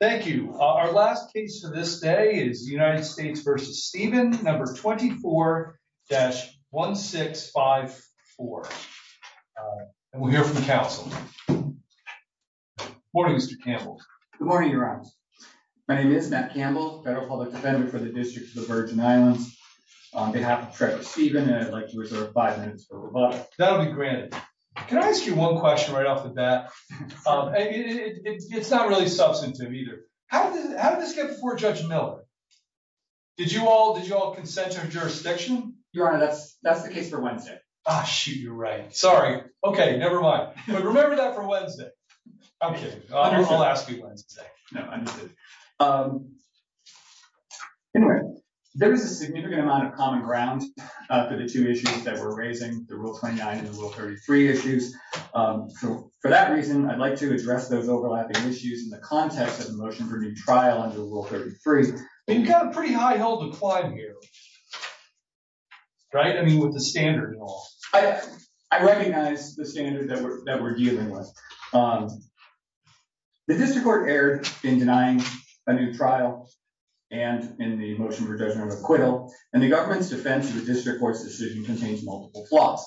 Thank you. Our last case for this day is United States v. Stephen, No. 24-1654. And we'll hear from counsel. Morning, Mr. Campbell. Good morning, Your Honor. My name is Matt Campbell, Federal Public Defender for the District of the Virgin Islands. On behalf of Treasurer Stephen, I'd like to reserve five minutes for rebuttal. That'll be granted. Can I ask you one question right off the bat? It's not really substantive either. How did this get before Judge Miller? Did you all consent to a jurisdiction? Your Honor, that's the case for Wednesday. Ah, shoot, you're right. Sorry. Okay, never mind. But remember that for Wednesday. Okay, I'll ask you Wednesday. No, understood. Anyway, there was a significant amount of common ground for the two issues that we're raising, the Rule 29 and the Rule 33 issues. For that reason, I'd like to address those overlapping issues in the context of the motion for a new trial under Rule 33. You've got a pretty high-heeled decline here, right? I mean, with the standard and all. I recognize the standard that we're dealing with. The district court erred in denying a new trial and in the motion for judgment of acquittal, and the government's defense of the district court's decision contains multiple flaws.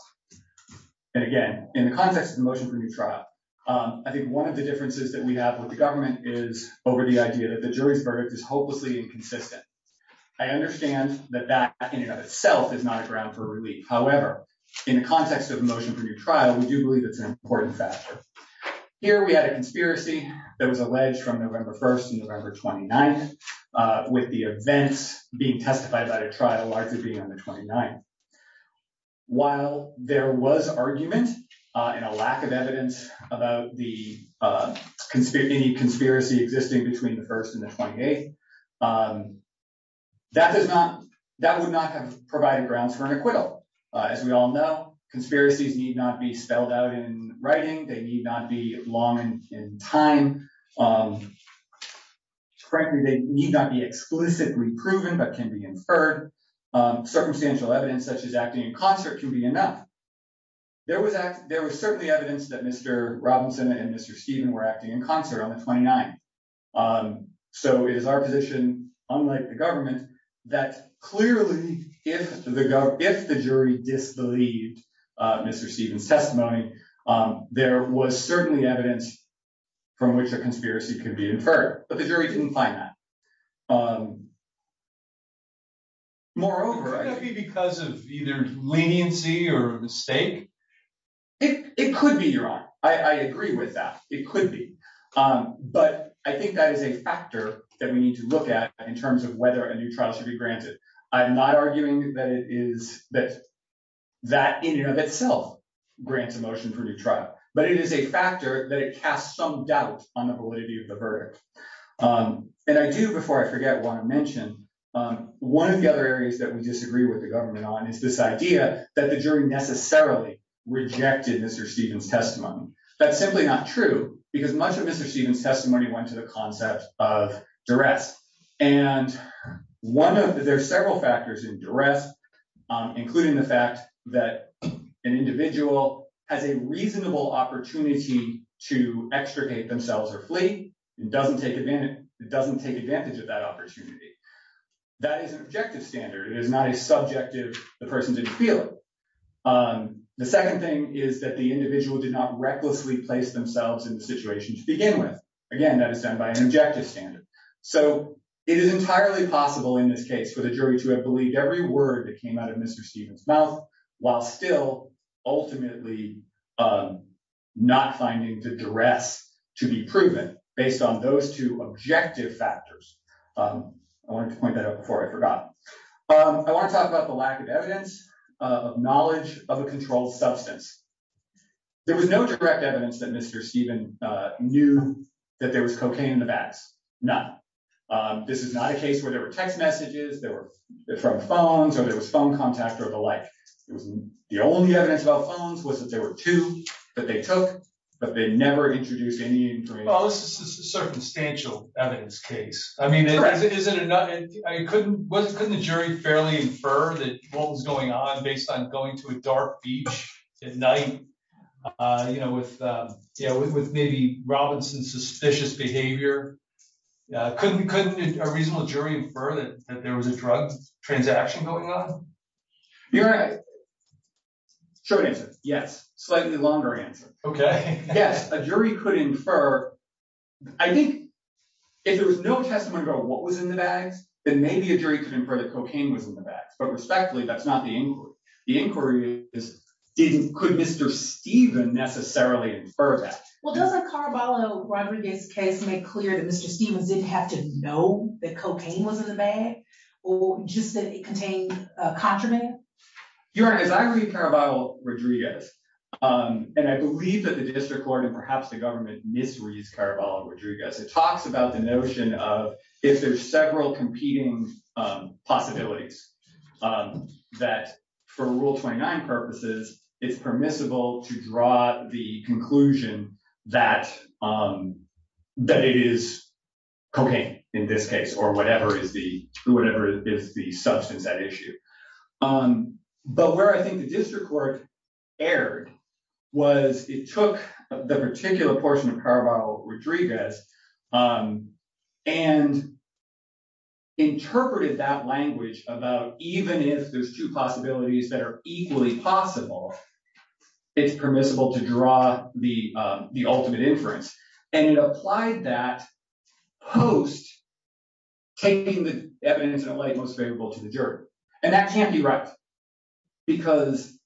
And again, in the context of the motion for a new trial, I think one of the differences that we have with the government is over the idea that the jury's verdict is hopelessly inconsistent. I understand that that in and of itself is not a ground for relief. However, in the context of the motion for a new trial, we do believe it's an important factor. Here we had a conspiracy that was alleged from November 1st to November 29th, with the events being testified by the trial largely being on the 29th. While there was argument and a lack of evidence about any conspiracy existing between the 1st and the 28th, that would not have provided grounds for an acquittal. As we all know, conspiracies need not be spelled out in writing. They need not be long in time. Frankly, they need not be explicitly proven but can be inferred. Circumstantial evidence such as acting in concert can be enough. There was certainly evidence that Mr. Robinson and Mr. Stephen were acting in concert on the 29th. So it is our position, unlike the government, that clearly if the jury disbelieved Mr. Stephen's testimony, there was certainly evidence from which a conspiracy could be inferred. But the jury didn't find that. Moreover... Could that be because of either leniency or a mistake? It could be, Your Honor. I agree with that. It could be. But I think that is a factor that we need to look at in terms of whether a new trial should be granted. I'm not arguing that that in and of itself grants a motion for a new trial. But it is a factor that it casts some doubt on the validity of the verdict. And I do, before I forget, want to mention one of the other areas that we disagree with the government on is this idea that the jury necessarily rejected Mr. Stephen's testimony. That's simply not true because much of Mr. Stephen's testimony went to the concept of duress. And there are several factors in duress, including the fact that an individual has a reasonable opportunity to extricate themselves or flee. It doesn't take advantage of that opportunity. That is an objective standard. It is not a subjective, the person didn't feel it. The second thing is that the individual did not recklessly place themselves in the situation to begin with. Again, that is done by an objective standard. So it is entirely possible in this case for the jury to have believed every word that came out of Mr. Stephen's mouth, while still ultimately not finding the duress to be proven based on those two objective factors. I want to point that out before I forgot. I want to talk about the lack of evidence of knowledge of a controlled substance. There was no direct evidence that Mr. Stephen knew that there was cocaine in the bags. None. This is not a case where there were text messages that were from phones or there was phone contact or the like. The only evidence about phones was that there were two that they took, but they never introduced any information. Well, this is a circumstantial evidence case. I mean, is it or not? Couldn't the jury fairly infer that what was going on based on going to a dark beach at night, with maybe Robinson's suspicious behavior, couldn't a reasonable jury infer that there was a drug transaction going on? You're right. Short answer, yes. Slightly longer answer. Yes, a jury could infer. I think if there was no testimony about what was in the bags, then maybe a jury could infer that cocaine was in the bags, but respectfully, that's not the inquiry. Couldn't Mr. Stephen necessarily infer that? Well, doesn't Caraballo Rodriguez's case make clear that Mr. Stephen didn't have to know that cocaine was in the bag or just that it contained a contraband? Your Honor, as I read Caraballo Rodriguez, and I believe that the district court and perhaps the government misread Caraballo Rodriguez, it talks about the notion of if there's several competing possibilities, that for Rule 29 purposes, it's permissible to draw the conclusion that it is cocaine in this case or whatever is the substance at issue. But where I think the district court erred was it took the particular portion of Caraballo Rodriguez and interpreted that language about even if there's two possibilities that are equally possible, it's permissible to draw the ultimate inference. And it applied that post taking the evidence in a light most favorable to the jury. And that can't be right because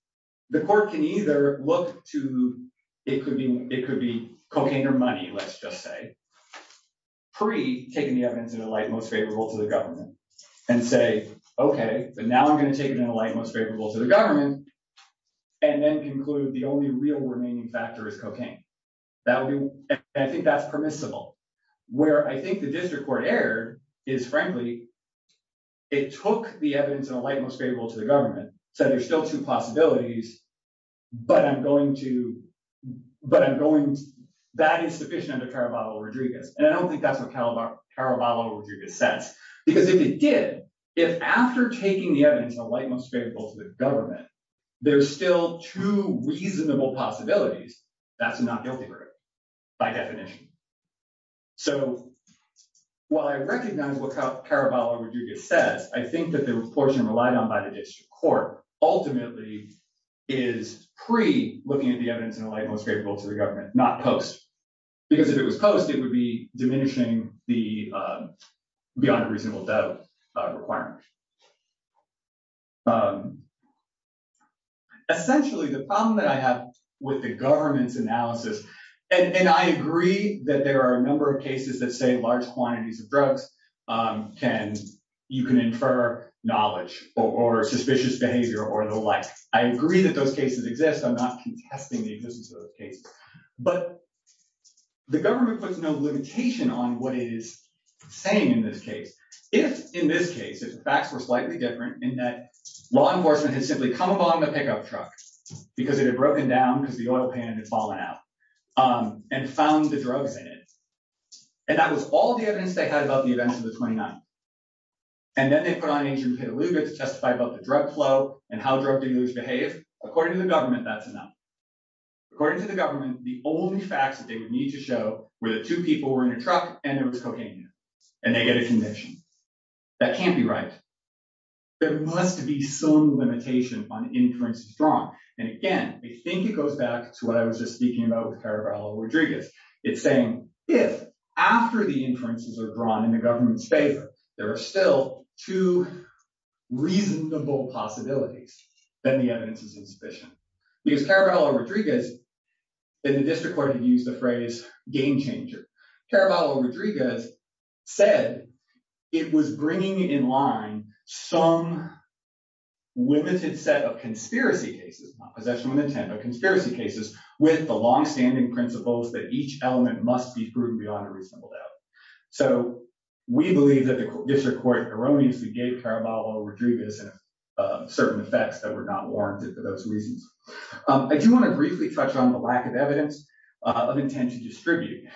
the court can either look to, it could be cocaine or money, let's just say, pre-taking the evidence in a light most favorable to the government and say, okay, but now I'm going to take it in a light most favorable to the government and then conclude the only real remaining factor is cocaine. And I think that's permissible. Where I think the district court erred is, frankly, it took the evidence in a light most favorable to the government, said there's still two possibilities, but I'm going to, that is sufficient under Caraballo Rodriguez. And I don't think that's what Caraballo Rodriguez says. Because if it did, if after taking the evidence in a light most favorable to the government, there's still two reasonable possibilities, that's a not guilty verdict by definition. So while I recognize what Caraballo Rodriguez says, I think that the portion relied on by the district court ultimately is pre-looking at the evidence in a light most favorable to the government, not post. Because if it was post, it would be diminishing the beyond reasonable doubt requirement. Essentially, the problem that I have with the government's analysis, and I agree that there are a number of cases that say large quantities of drugs can, you can infer knowledge or suspicious behavior or the like. I agree that those cases exist. I'm not contesting the existence of those cases. But the government puts no limitation on what it is saying in this case. If in this case, if the facts were slightly different in that law enforcement had simply come upon the pickup truck because it had broken down because the oil pan had fallen out and found the drugs in it. And that was all the evidence they had about the events of the 29th. And then they put on agent to testify about the drug flow and how drug dealers behave. According to the government, that's enough. According to the government, the only facts that they would need to show where the two people were in a truck and it was cocaine and they get a conviction. That can't be right. There must be some limitation on inferences drawn. And again, I think it goes back to what I was just speaking about with Caraballo Rodriguez. It's saying if after the inferences are drawn in the government's favor, there are still two reasonable possibilities. Then the evidence is insufficient because Caraballo Rodriguez in the district court had used the phrase game changer. Caraballo Rodriguez said it was bringing in line some. Limited set of conspiracy cases, possession and intent of conspiracy cases with the longstanding principles that each element must be proven beyond a reasonable doubt. So we believe that the district court erroneously gave Caraballo Rodriguez certain effects that were not warranted for those reasons. I do want to briefly touch on the lack of evidence of intent to distribute.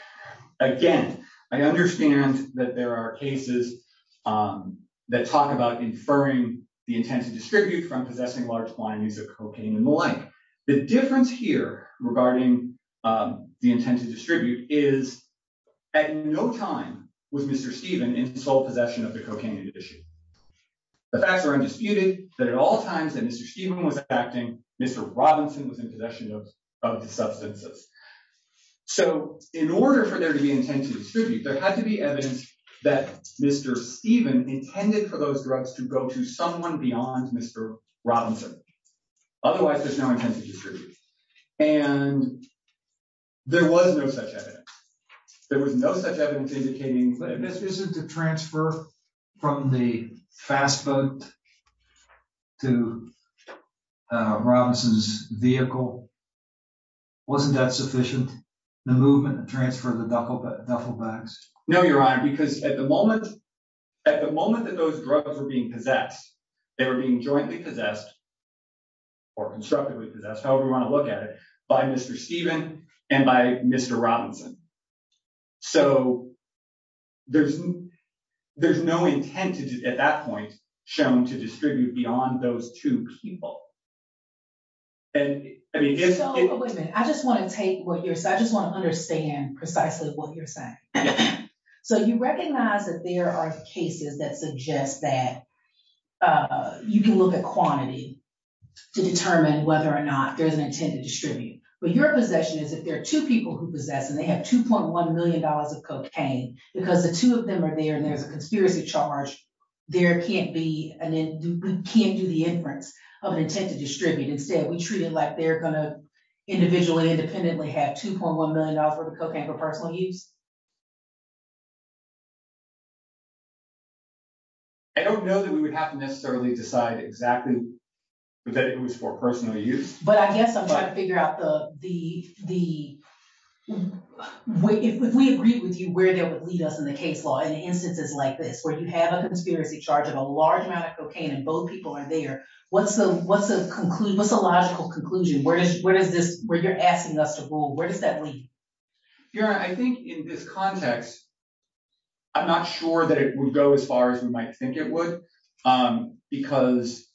Again, I understand that there are cases that talk about inferring the intent to distribute from possessing large quantities of cocaine and the like. The difference here regarding the intent to distribute is at no time was Mr. Stephen was acting. Mr. Robinson was in possession of the substances. So in order for there to be intent to distribute, there had to be evidence that Mr. Stephen intended for those drugs to go to someone beyond Mr. Robinson. Otherwise, there's no intent to distribute. And there was no such evidence. There was no such evidence indicating that this isn't a transfer from the fastboat to Robinson's vehicle. Wasn't that sufficient? The movement transfer of the duffel bags? No, Your Honor, because at the moment, at the moment that those drugs are being possessed, they were being jointly possessed. Or constructively possessed, however you want to look at it, by Mr. Stephen and by Mr. Robinson. So there's there's no intent at that point shown to distribute beyond those two people. And I mean, I just want to take what you're saying. I just want to understand precisely what you're saying. So you recognize that there are cases that suggest that you can look at quantity to determine whether or not there is an intent to distribute. But your possession is that there are two people who possess and they have two point one million dollars of cocaine because the two of them are there and there's a conspiracy charge. There can't be an end. We can't do the inference of an intent to distribute. Instead, we treat it like they're going to individually independently have two point one million dollars worth of cocaine for personal use. I don't know that we would have to necessarily decide exactly who is for personal use, but I guess I'm trying to figure out the the the way if we agree with you, where that would lead us in the case law in instances like this where you have a conspiracy charge of a large amount of cocaine and both people are there. What's the what's the conclusion? What's the logical conclusion? Where is where is this where you're asking us to go? Where does that lead? I think in this context, I'm not sure that it would go as far as we might think it would, because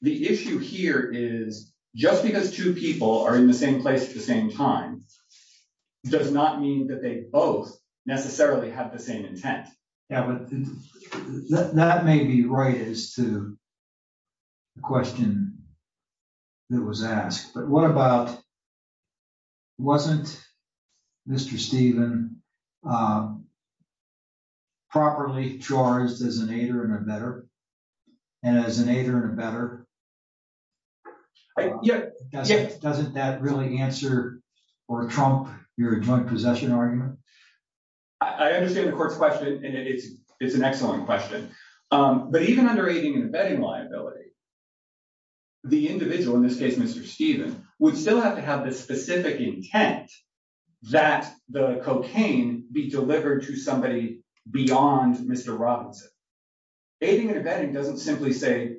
the issue here is just because two people are in the same place at the same time does not mean that they both necessarily have the same intent. Yeah, but that may be right as to the question that was asked. But what about wasn't Mr. Steven properly charged as an aider and a better and as an aider and a better? Yeah. Doesn't that really answer or trump your joint possession argument? I understand the court's question. It's an excellent question. But even under aiding and abetting liability. The individual in this case, Mr. Steven would still have to have this specific intent that the cocaine be delivered to somebody beyond Mr. Aiding and abetting doesn't simply say,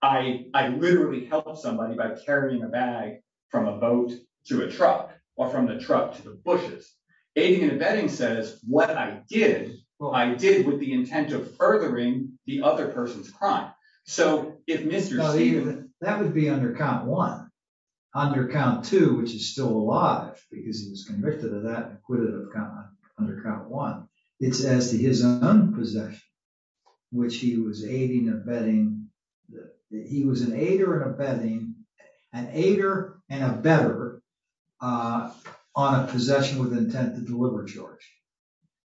I literally help somebody by carrying a bag from a boat to a truck or from the truck to the bushes. Aiding and abetting says what I did. Well, I did with the intent of furthering the other person's crime. So if Mr. Steven, that would be under count one, under count two, which is still alive because he was convicted of that and quitted under count one. It's as to his own possession, which he was aiding and abetting. He was an aider and abetting an aider and a better on a possession with intent to deliver George.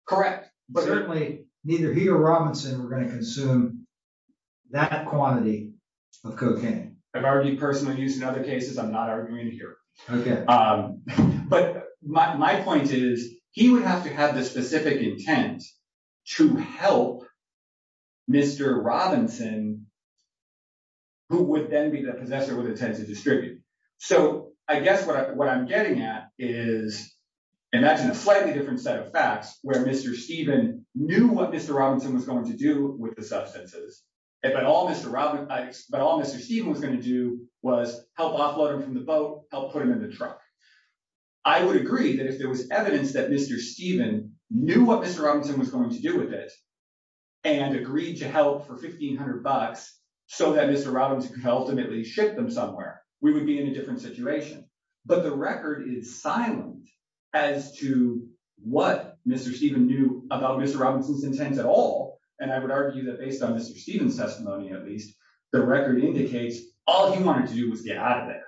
Correct. But certainly neither he or Robinson were going to consume that quantity of cocaine. I've already personally used in other cases. I'm not arguing here. But my point is he would have to have the specific intent to help. Mr. Robinson. Who would then be the possessor with intent to distribute. So I guess what I'm getting at is. And that's a slightly different set of facts where Mr. Steven knew what Mr. Robinson was going to do with the substances. But all Mr. Robinson, but all Mr. Steven was going to do was help offload him from the boat, help put him in the truck. I would agree that if there was evidence that Mr. Steven knew what Mr. Robinson was going to do with it and agreed to help for fifteen hundred bucks so that Mr. We would be in a different situation. But the record is silent as to what Mr. Steven knew about Mr. Robinson's intent at all. And I would argue that based on Mr. Steven's testimony, at least the record indicates all he wanted to do was get out of there.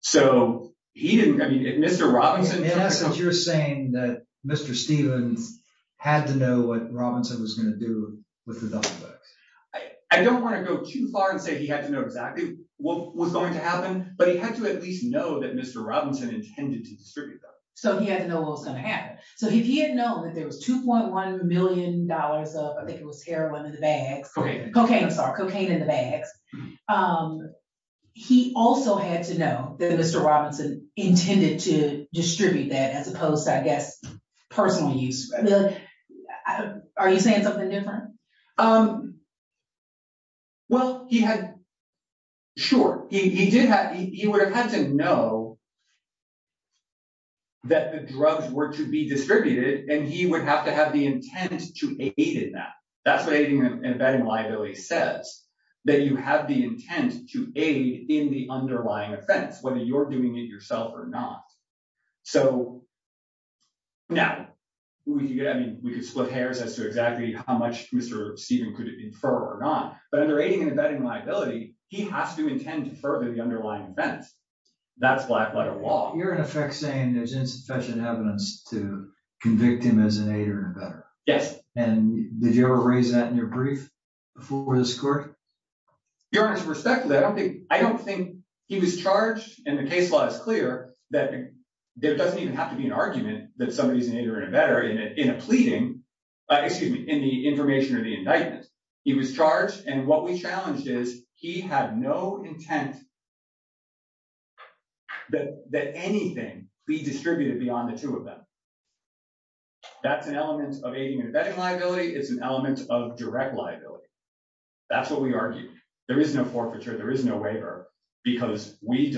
So he didn't get Mr. Robinson. You're saying that Mr. Stevens had to know what Robinson was going to do with the books. I don't want to go too far and say he had to know exactly what was going to happen, but he had to at least know that Mr. Robinson intended to distribute them. So he had to know what was going to happen. So if he had known that there was two point one million dollars of I think it was heroin in the bags. Cocaine, I'm sorry, cocaine in the bags. He also had to know that Mr. Robinson intended to distribute that as opposed to, I guess, personal use. Are you saying something different? Well, he had. Sure, he did. He would have had to know. That the drugs were to be distributed and he would have to have the intent to aid in that. That's what aiding and abetting liability says, that you have the intent to aid in the underlying offense, whether you're doing it yourself or not. So, now, we could split hairs as to exactly how much Mr. Steven could infer or not. But under aiding and abetting liability, he has to intend to further the underlying offense. That's black letter law. You're in effect saying there's insufficient evidence to convict him as an aider and abetter. Yes. And did you ever raise that in your brief before this court? Your Honor, respectfully, I don't think he was charged and the case law is clear that there doesn't even have to be an argument that somebody is an aider and abetter in a pleading, excuse me, in the information or the indictment. He was charged and what we challenged is he had no intent that anything be distributed beyond the two of them. That's an element of aiding and abetting liability. It's an element of direct liability. That's what we argued. There is no forfeiture. There is no waiver because we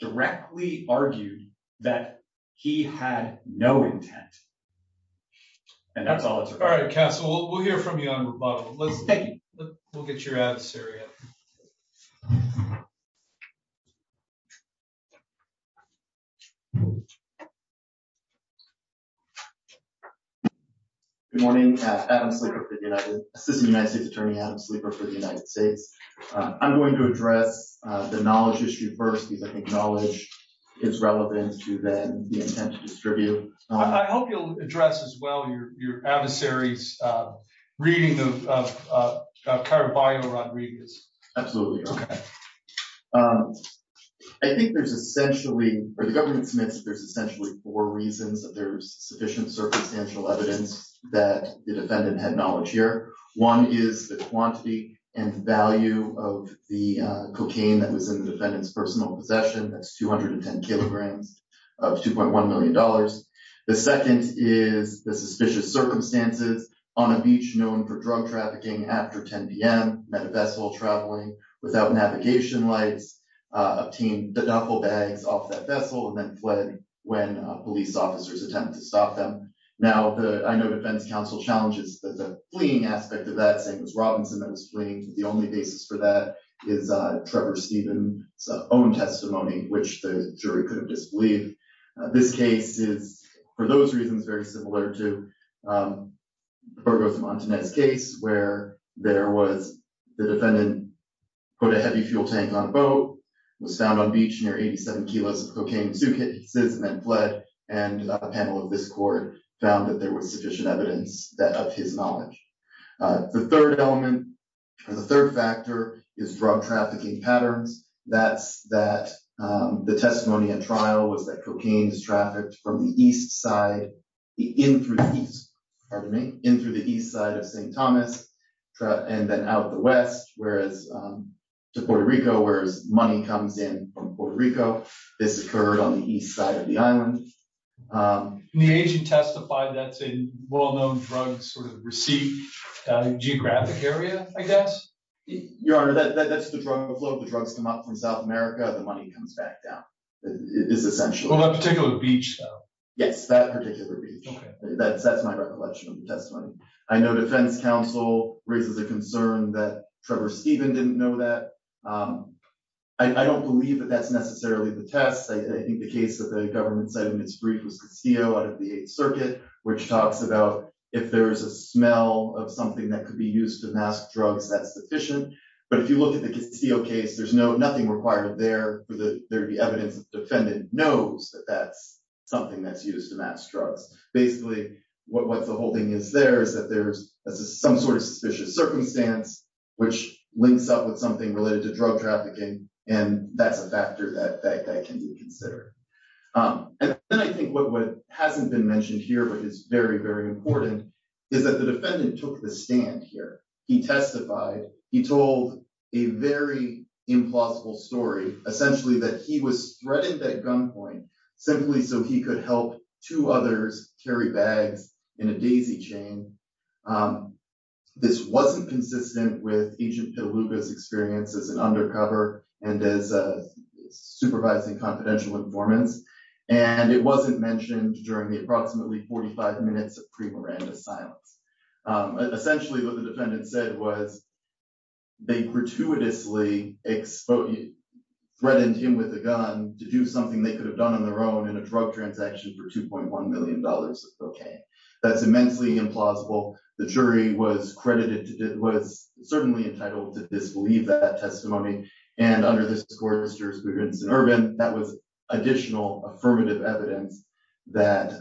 directly argued that he had no intent. And that's all. All right, Castle, we'll hear from you on rebuttal. Let's take it. We'll get you out of Syria. Good morning. Adam Sleeper, Assistant United States Attorney, Adam Sleeper for the United States. I'm going to address the knowledge issue first because I think knowledge is relevant to the intent to distribute. I hope you'll address as well your adversaries reading of Caraballo Rodriguez. Absolutely. OK, I think there's essentially or the government admits there's essentially four reasons that there's sufficient circumstantial evidence that the defendant had knowledge here. One is the quantity and value of the cocaine that was in the defendant's personal possession. That's 210 kilograms of two point one million dollars. The second is the suspicious circumstances on a beach known for drug trafficking. After 10 p.m., met a vessel traveling without navigation lights, obtained the duffel bags off that vessel and then fled when police officers attempted to stop them. Now, I know defense counsel challenges the fleeing aspect of that. It was Robinson that was fleeing. The only basis for that is Trevor Stephen's own testimony, which the jury could have disbelieved. This case is, for those reasons, very similar to Burgos Montanez case where there was the defendant put a heavy fuel tank on a boat, was found on beach near 87 kilos of cocaine, fled and a panel of this court found that there was sufficient evidence that of his knowledge. The third element, the third factor is drug trafficking patterns. That's that the testimony and trial was that cocaine is trafficked from the east side in through the east side of St. Thomas and then out the west, whereas to Puerto Rico, whereas money comes in from Puerto Rico. This occurred on the east side of the island. The agent testified that's a well-known drug sort of receipt geographic area, I guess. Your Honor, that's the drug flow of the drugs come up from South America. The money comes back down. It is essentially a particular beach. Yes, that particular beach. That's that's my recollection of the testimony. I know defense counsel raises a concern that Trevor Stephen didn't know that. I don't believe that that's necessarily the test. I think the case that the government said in its brief was Castillo out of the circuit, which talks about if there is a smell of something that could be used to mask drugs, that's sufficient. But if you look at the Castillo case, there's no nothing required there for the evidence. Defendant knows that that's something that's used to mask drugs. Basically, what the whole thing is there is that there's some sort of suspicious circumstance which links up with something related to drug trafficking. And that's a factor that can be considered. And I think what hasn't been mentioned here, but it's very, very important, is that the defendant took the stand here. He testified. He told a very implausible story, essentially, that he was threatened at gunpoint simply so he could help two others carry bags in a daisy chain. This wasn't consistent with agent Lucas experiences and undercover and is supervising confidential informants. And it wasn't mentioned during the approximately 45 minutes of pre Miranda silence. Essentially, what the defendant said was they gratuitously exposed threatened him with a gun to do something they could have done on their own in a drug transaction for two point one million dollars. OK, that's immensely implausible. The jury was credited. It was certainly entitled to disbelieve that testimony. And under this court, Mr. Ervin, that was additional affirmative evidence that.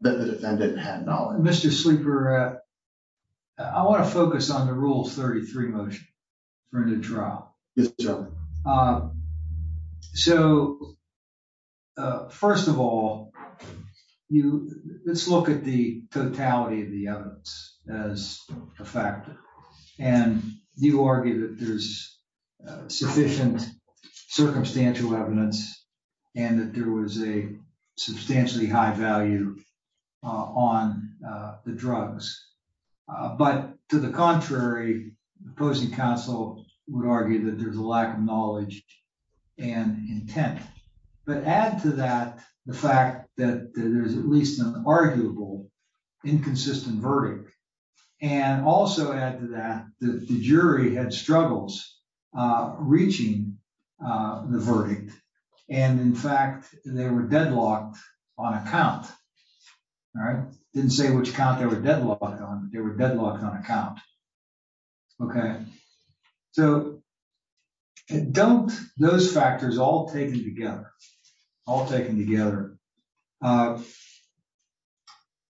The defendant had knowledge, Mr. Sleeper. I want to focus on the rules. For the trial. So, first of all, you let's look at the totality of the evidence as a factor. And you argue that there's sufficient circumstantial evidence. And that there was a substantially high value on the drugs. But to the contrary, opposing counsel would argue that there's a lack of knowledge and intent. But add to that the fact that there's at least an arguable inconsistent verdict and also add to that the jury had struggles reaching the verdict. And in fact, they were deadlocked on account. All right. Didn't say which count they were deadlocked on. They were deadlocked on account. OK, so. And don't those factors all taken together, all taken together.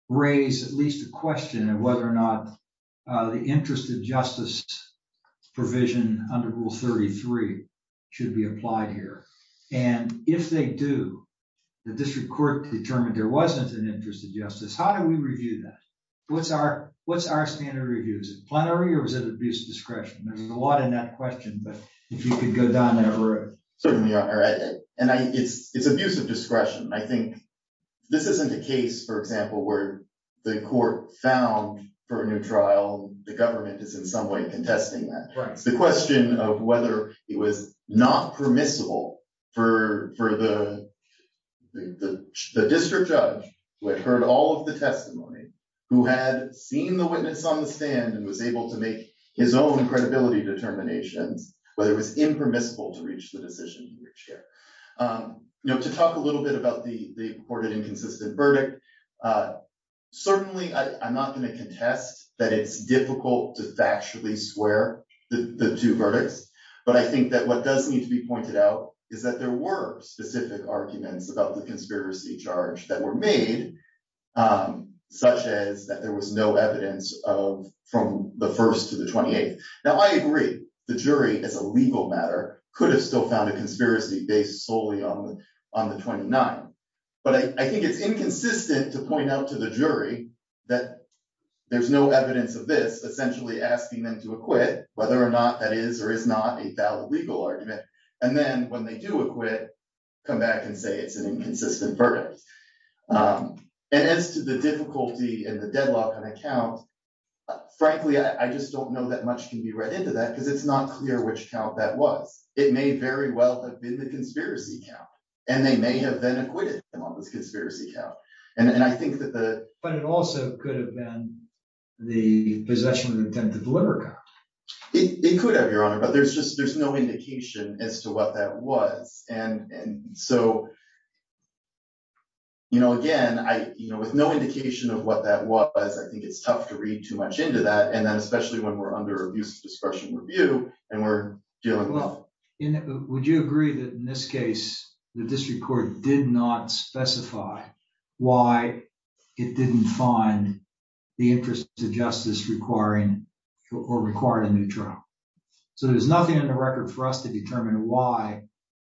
Raise at least a question of whether or not the interest of justice provision under Rule 33 should be applied here. And if they do, the district court determined there wasn't an interest of justice. How do we review that? What's our what's our standard review? Is it plenary or is it abuse of discretion? There's a lot in that question, but if you could go down that road. Certainly. And it's it's abuse of discretion. I think this isn't a case, for example, where the court found for a new trial. The government is in some way contesting the question of whether it was not permissible for the district judge who had heard all of the testimony, who had seen the witness on the stand and was able to make his own credibility determinations, whether it was impermissible to reach the decision. You know, to talk a little bit about the recorded inconsistent verdict, certainly I'm not going to contest that it's difficult to factually swear the two verdicts. But I think that what does need to be pointed out is that there were specific arguments about the conspiracy charge that were made, such as that there was no evidence of from the first to the 28th. Now, I agree the jury is a legal matter, could have still found a conspiracy based solely on on the 29th. But I think it's inconsistent to point out to the jury that there's no evidence of this essentially asking them to acquit, whether or not that is or is not a valid legal argument. And then when they do acquit, come back and say it's an inconsistent verdict. And as to the difficulty and the deadlock on account, frankly, I just don't know that much can be read into that because it's not clear which account that was. It may very well have been the conspiracy account, and they may have been acquitted on this conspiracy account. And I think that the but it also could have been the possession of intent to deliver. It could have, Your Honor, but there's just there's no indication as to what that was. And so, you know, again, I know with no indication of what that was, I think it's tough to read too much into that. And then especially when we're under abuse of discretion review and we're dealing with. Would you agree that in this case, the district court did not specify why it didn't find the interest to justice requiring or requiring a new trial. So there's nothing in the record for us to determine why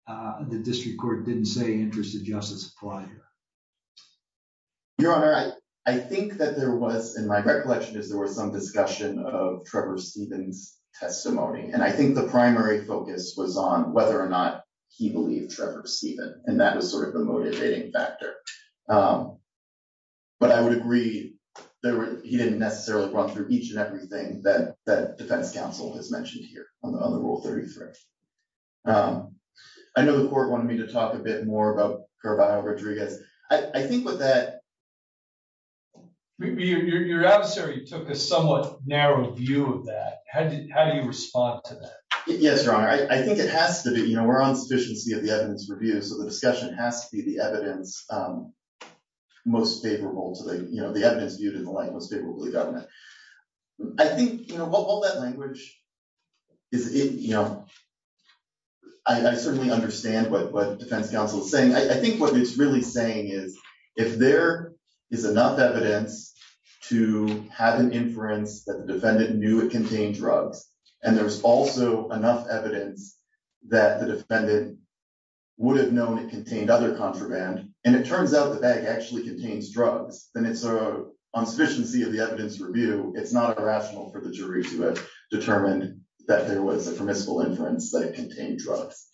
the district court didn't say interest of justice apply here. Your Honor, I think that there was in my recollection is there was some discussion of Trevor Stevens testimony, and I think the primary focus was on whether or not he believed Trevor Steven. And that was sort of the motivating factor. But I would agree that he didn't necessarily run through each and everything that that defense counsel has mentioned here on the rule 33. I know the court wanted me to talk a bit more about her bio Rodriguez. I think with that. Your adversary took a somewhat narrow view of that. How do you respond to that? Yes. Your Honor, I think it has to be, you know, we're on sufficiency of the evidence review. So the discussion has to be the evidence most favorable to the evidence viewed in the light most favorably government. I think all that language is, you know, I certainly understand what the defense counsel is saying. I think what it's really saying is, if there is enough evidence to have an inference that the defendant knew it contained drugs. And there's also enough evidence that the defendant would have known it contained other contraband. And it turns out the bag actually contains drugs. And it's a sufficiency of the evidence review. It's not irrational for the jury to determine that there was a permissible inference that it contained drugs.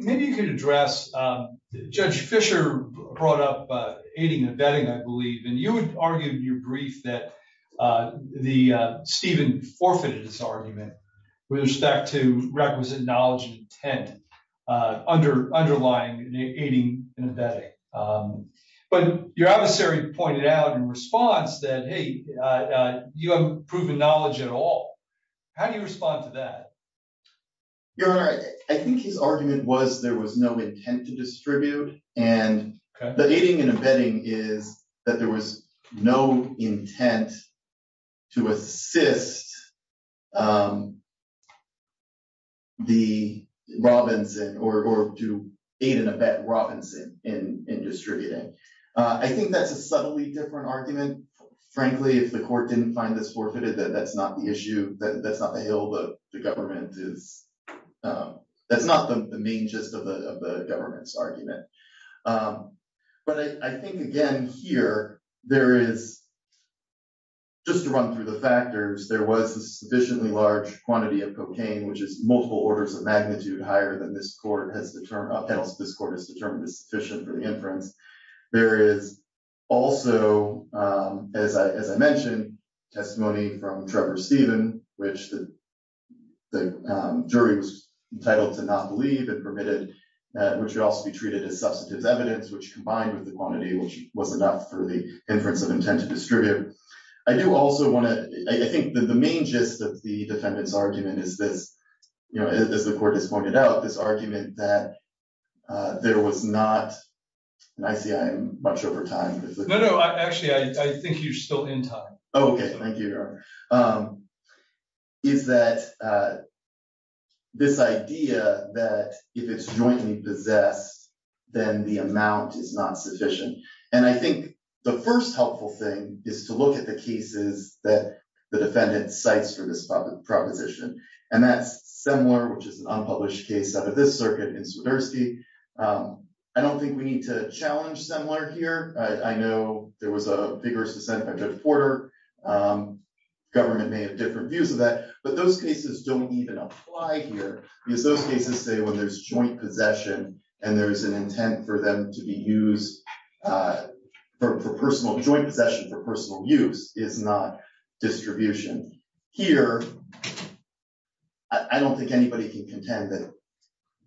Maybe you could address Judge Fisher brought up aiding and abetting, I believe. And you would argue in your brief that the Stephen forfeited his argument with respect to requisite knowledge and intent under underlying aiding and abetting. But your adversary pointed out in response that, hey, you have proven knowledge at all. How do you respond to that? Your Honor, I think his argument was there was no intent to distribute. And the aiding and abetting is that there was no intent to assist the Robinson or to aid and abet Robinson in distributing. I think that's a subtly different argument. Frankly, if the court didn't find this forfeited, that's not the issue. But I think, again, here there is. Just to run through the factors, there was a sufficiently large quantity of cocaine, which is multiple orders of magnitude higher than this court has determined. This court has determined is sufficient for the inference. There is also, as I mentioned, testimony from Trevor Stephen, which the jury was entitled to not believe it permitted, which would also be treated as substantive evidence, which combined with the quantity, which was enough for the inference of intent to distribute. I do also want to, I think the main gist of the defendant's argument is this, you know, as the court has pointed out, this argument that there was not, and I see I'm much over time. No, no, actually, I think you're still in time. Okay, thank you. Is that this idea that if it's jointly possessed, then the amount is not sufficient. And I think the first helpful thing is to look at the cases that the defendant cites for this proposition. And that's similar, which is an unpublished case out of this circuit in Swiderski. I don't think we need to challenge similar here. I know there was a vigorous dissent by Judge Porter. Government may have different views of that, but those cases don't even apply here, because those cases say when there's joint possession and there's an intent for them to be used for personal, joint possession for personal use is not distribution. Here, I don't think anybody can contend that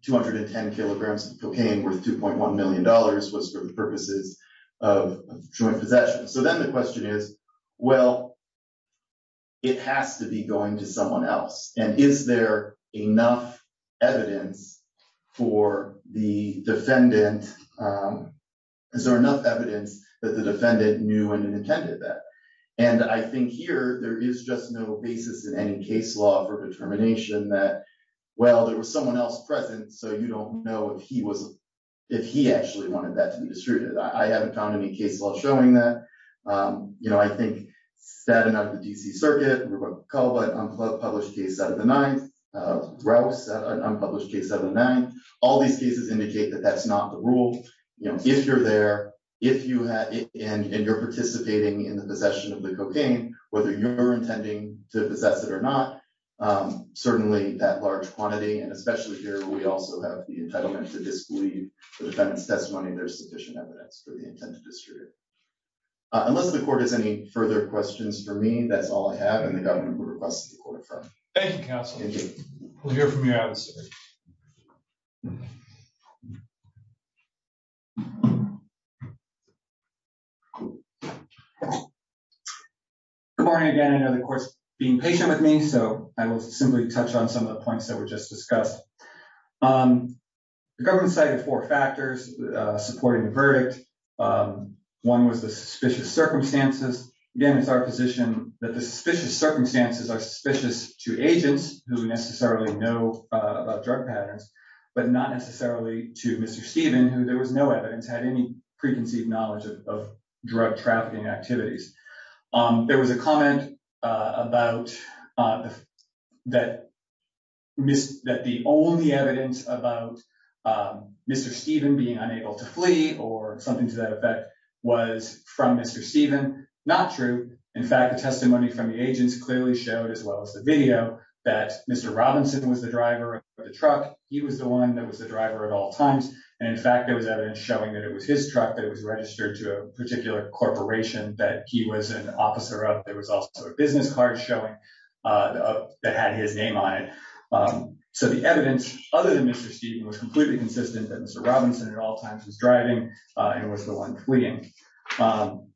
210 kilograms of cocaine worth $2.1 million was for the purposes of joint possession. So then the question is, well, it has to be going to someone else. And is there enough evidence for the defendant. Is there enough evidence that the defendant knew and intended that. And I think here there is just no basis in any case law for determination that, well, there was someone else present so you don't know if he was, if he actually wanted that to be distributed. I haven't found any case law showing that. You know, I think, sad enough, the D.C. Circuit, Ruben Colbert, unpublished case out of the 9th, Rouse, unpublished case out of the 9th. All these cases indicate that that's not the rule. You know, if you're there, if you have it, and you're participating in the possession of the cocaine, whether you're intending to possess it or not, certainly that large quantity. And especially here, we also have the entitlement to disbelieve the defendant's testimony. There's sufficient evidence for the intent to distribute. Unless the court has any further questions for me, that's all I have, and the governor will request that the court defer. Thank you, counsel. We'll hear from you. Good morning, again. I know the court's being patient with me, so I will simply touch on some of the points that were just discussed. The government cited four factors supporting the verdict. One was the suspicious circumstances. Again, it's our position that the suspicious circumstances are suspicious to agents who necessarily know about drug patterns, but not necessarily to Mr. The only evidence about Mr. Stephen being unable to flee or something to that effect was from Mr. Stephen. Not true. In fact, the testimony from the agents clearly showed, as well as the video, that Mr. Robinson was the driver of the truck. He was the one that was the driver at all times. And in fact, there was evidence showing that it was his truck that was registered to a particular corporation that he was an officer of. There was also a business card showing that had his name on it. So the evidence, other than Mr. Stephen, was completely consistent that Mr. Robinson at all times was driving and was the one fleeing.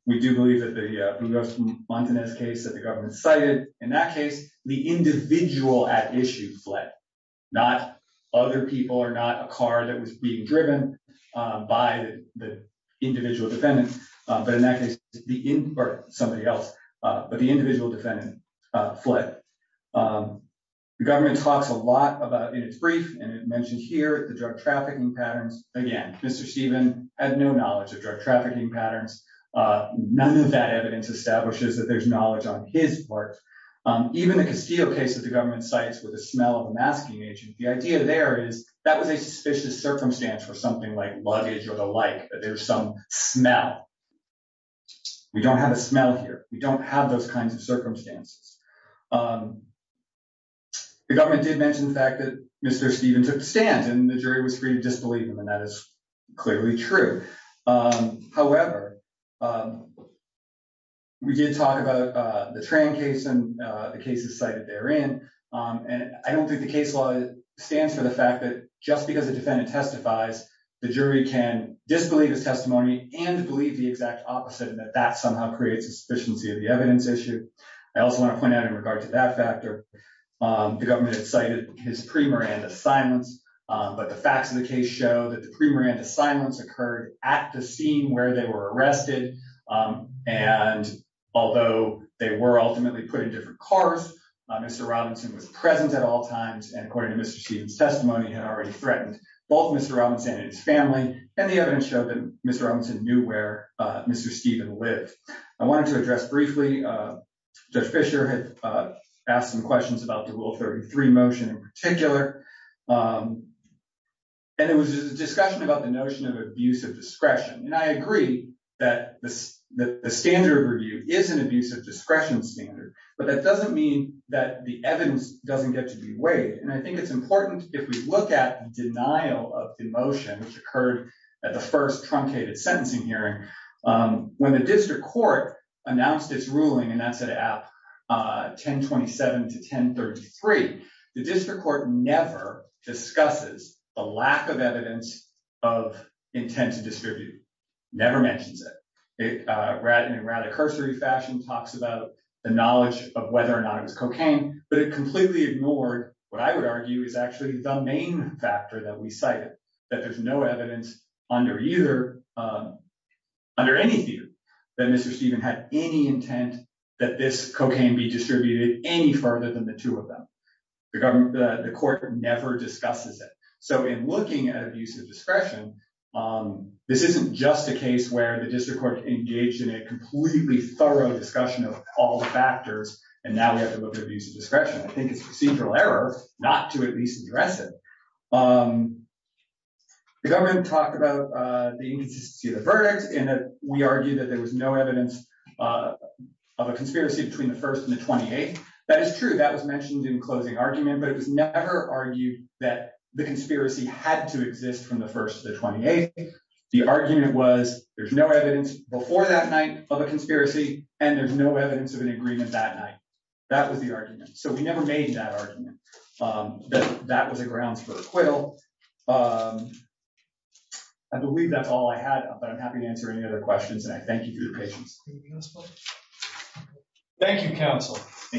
We do believe that the Montanez case that the government cited in that case, the individual at issue fled, not other people or not a car that was being driven by the individual defendant. But in that case, the or somebody else, but the individual defendant fled. The government talks a lot about in its brief and it mentioned here the drug trafficking patterns. Again, Mr. Stephen had no knowledge of drug trafficking patterns. None of that evidence establishes that there's knowledge on his part. Even the Castillo case that the government cites with the smell of a masking agent, the idea there is that was a suspicious circumstance for something like luggage or the like, that there's some smell. We don't have a smell here. We don't have those kinds of circumstances. The government did mention the fact that Mr. Stephen took the stand and the jury was free to disbelieve him. And that is clearly true. However, we did talk about the train case and the cases cited therein. And I don't think the case law stands for the fact that just because the defendant testifies, the jury can disbelieve his testimony and believe the exact opposite and that that somehow creates a sufficiency of the evidence issue. I also want to point out in regard to that factor, the government cited his pre-Miranda silence. But the facts of the case show that the pre-Miranda silence occurred at the scene where they were arrested. And although they were ultimately put in different cars, Mr. Robinson was present at all times. And according to Mr. Stephen's testimony, he had already threatened both Mr. Robinson and his family. And the evidence showed that Mr. Robinson knew where Mr. Stephen lived. I wanted to address briefly, Judge Fischer had asked some questions about the Rule 33 motion in particular. And it was a discussion about the notion of abuse of discretion. And I agree that the standard review is an abuse of discretion standard, but that doesn't mean that the evidence doesn't get to be weighed. And I think it's important if we look at the denial of the motion, which occurred at the first truncated sentencing hearing when the district court announced its ruling. And that's at 1027 to 1033. The district court never discusses a lack of evidence of intent to distribute. Never mentions it. In a rather cursory fashion, talks about the knowledge of whether or not it was cocaine, but it completely ignored what I would argue is actually the main factor that we cited. That there's no evidence under either, under any view that Mr. Stephen had any intent that this cocaine be distributed any further than the two of them. The court never discusses it. So in looking at abuse of discretion, this isn't just a case where the district court engaged in a completely thorough discussion of all the factors. And now we have to look at abuse of discretion. I think it's procedural error not to at least address it. The government talked about the inconsistency of the verdict and that we argued that there was no evidence of a conspiracy between the first and the 28th. That is true. That was mentioned in closing argument, but it was never argued that the conspiracy had to exist from the first to the 28th. The argument was there's no evidence before that night of a conspiracy and there's no evidence of an agreement that night. That was the argument. So we never made that argument. That was a grounds for acquittal. I believe that's all I had, but I'm happy to answer any other questions and I thank you for your patience. Thank you, counsel.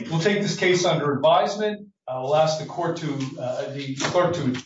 We'll take this case under advisement. I'll ask the court to adjourn.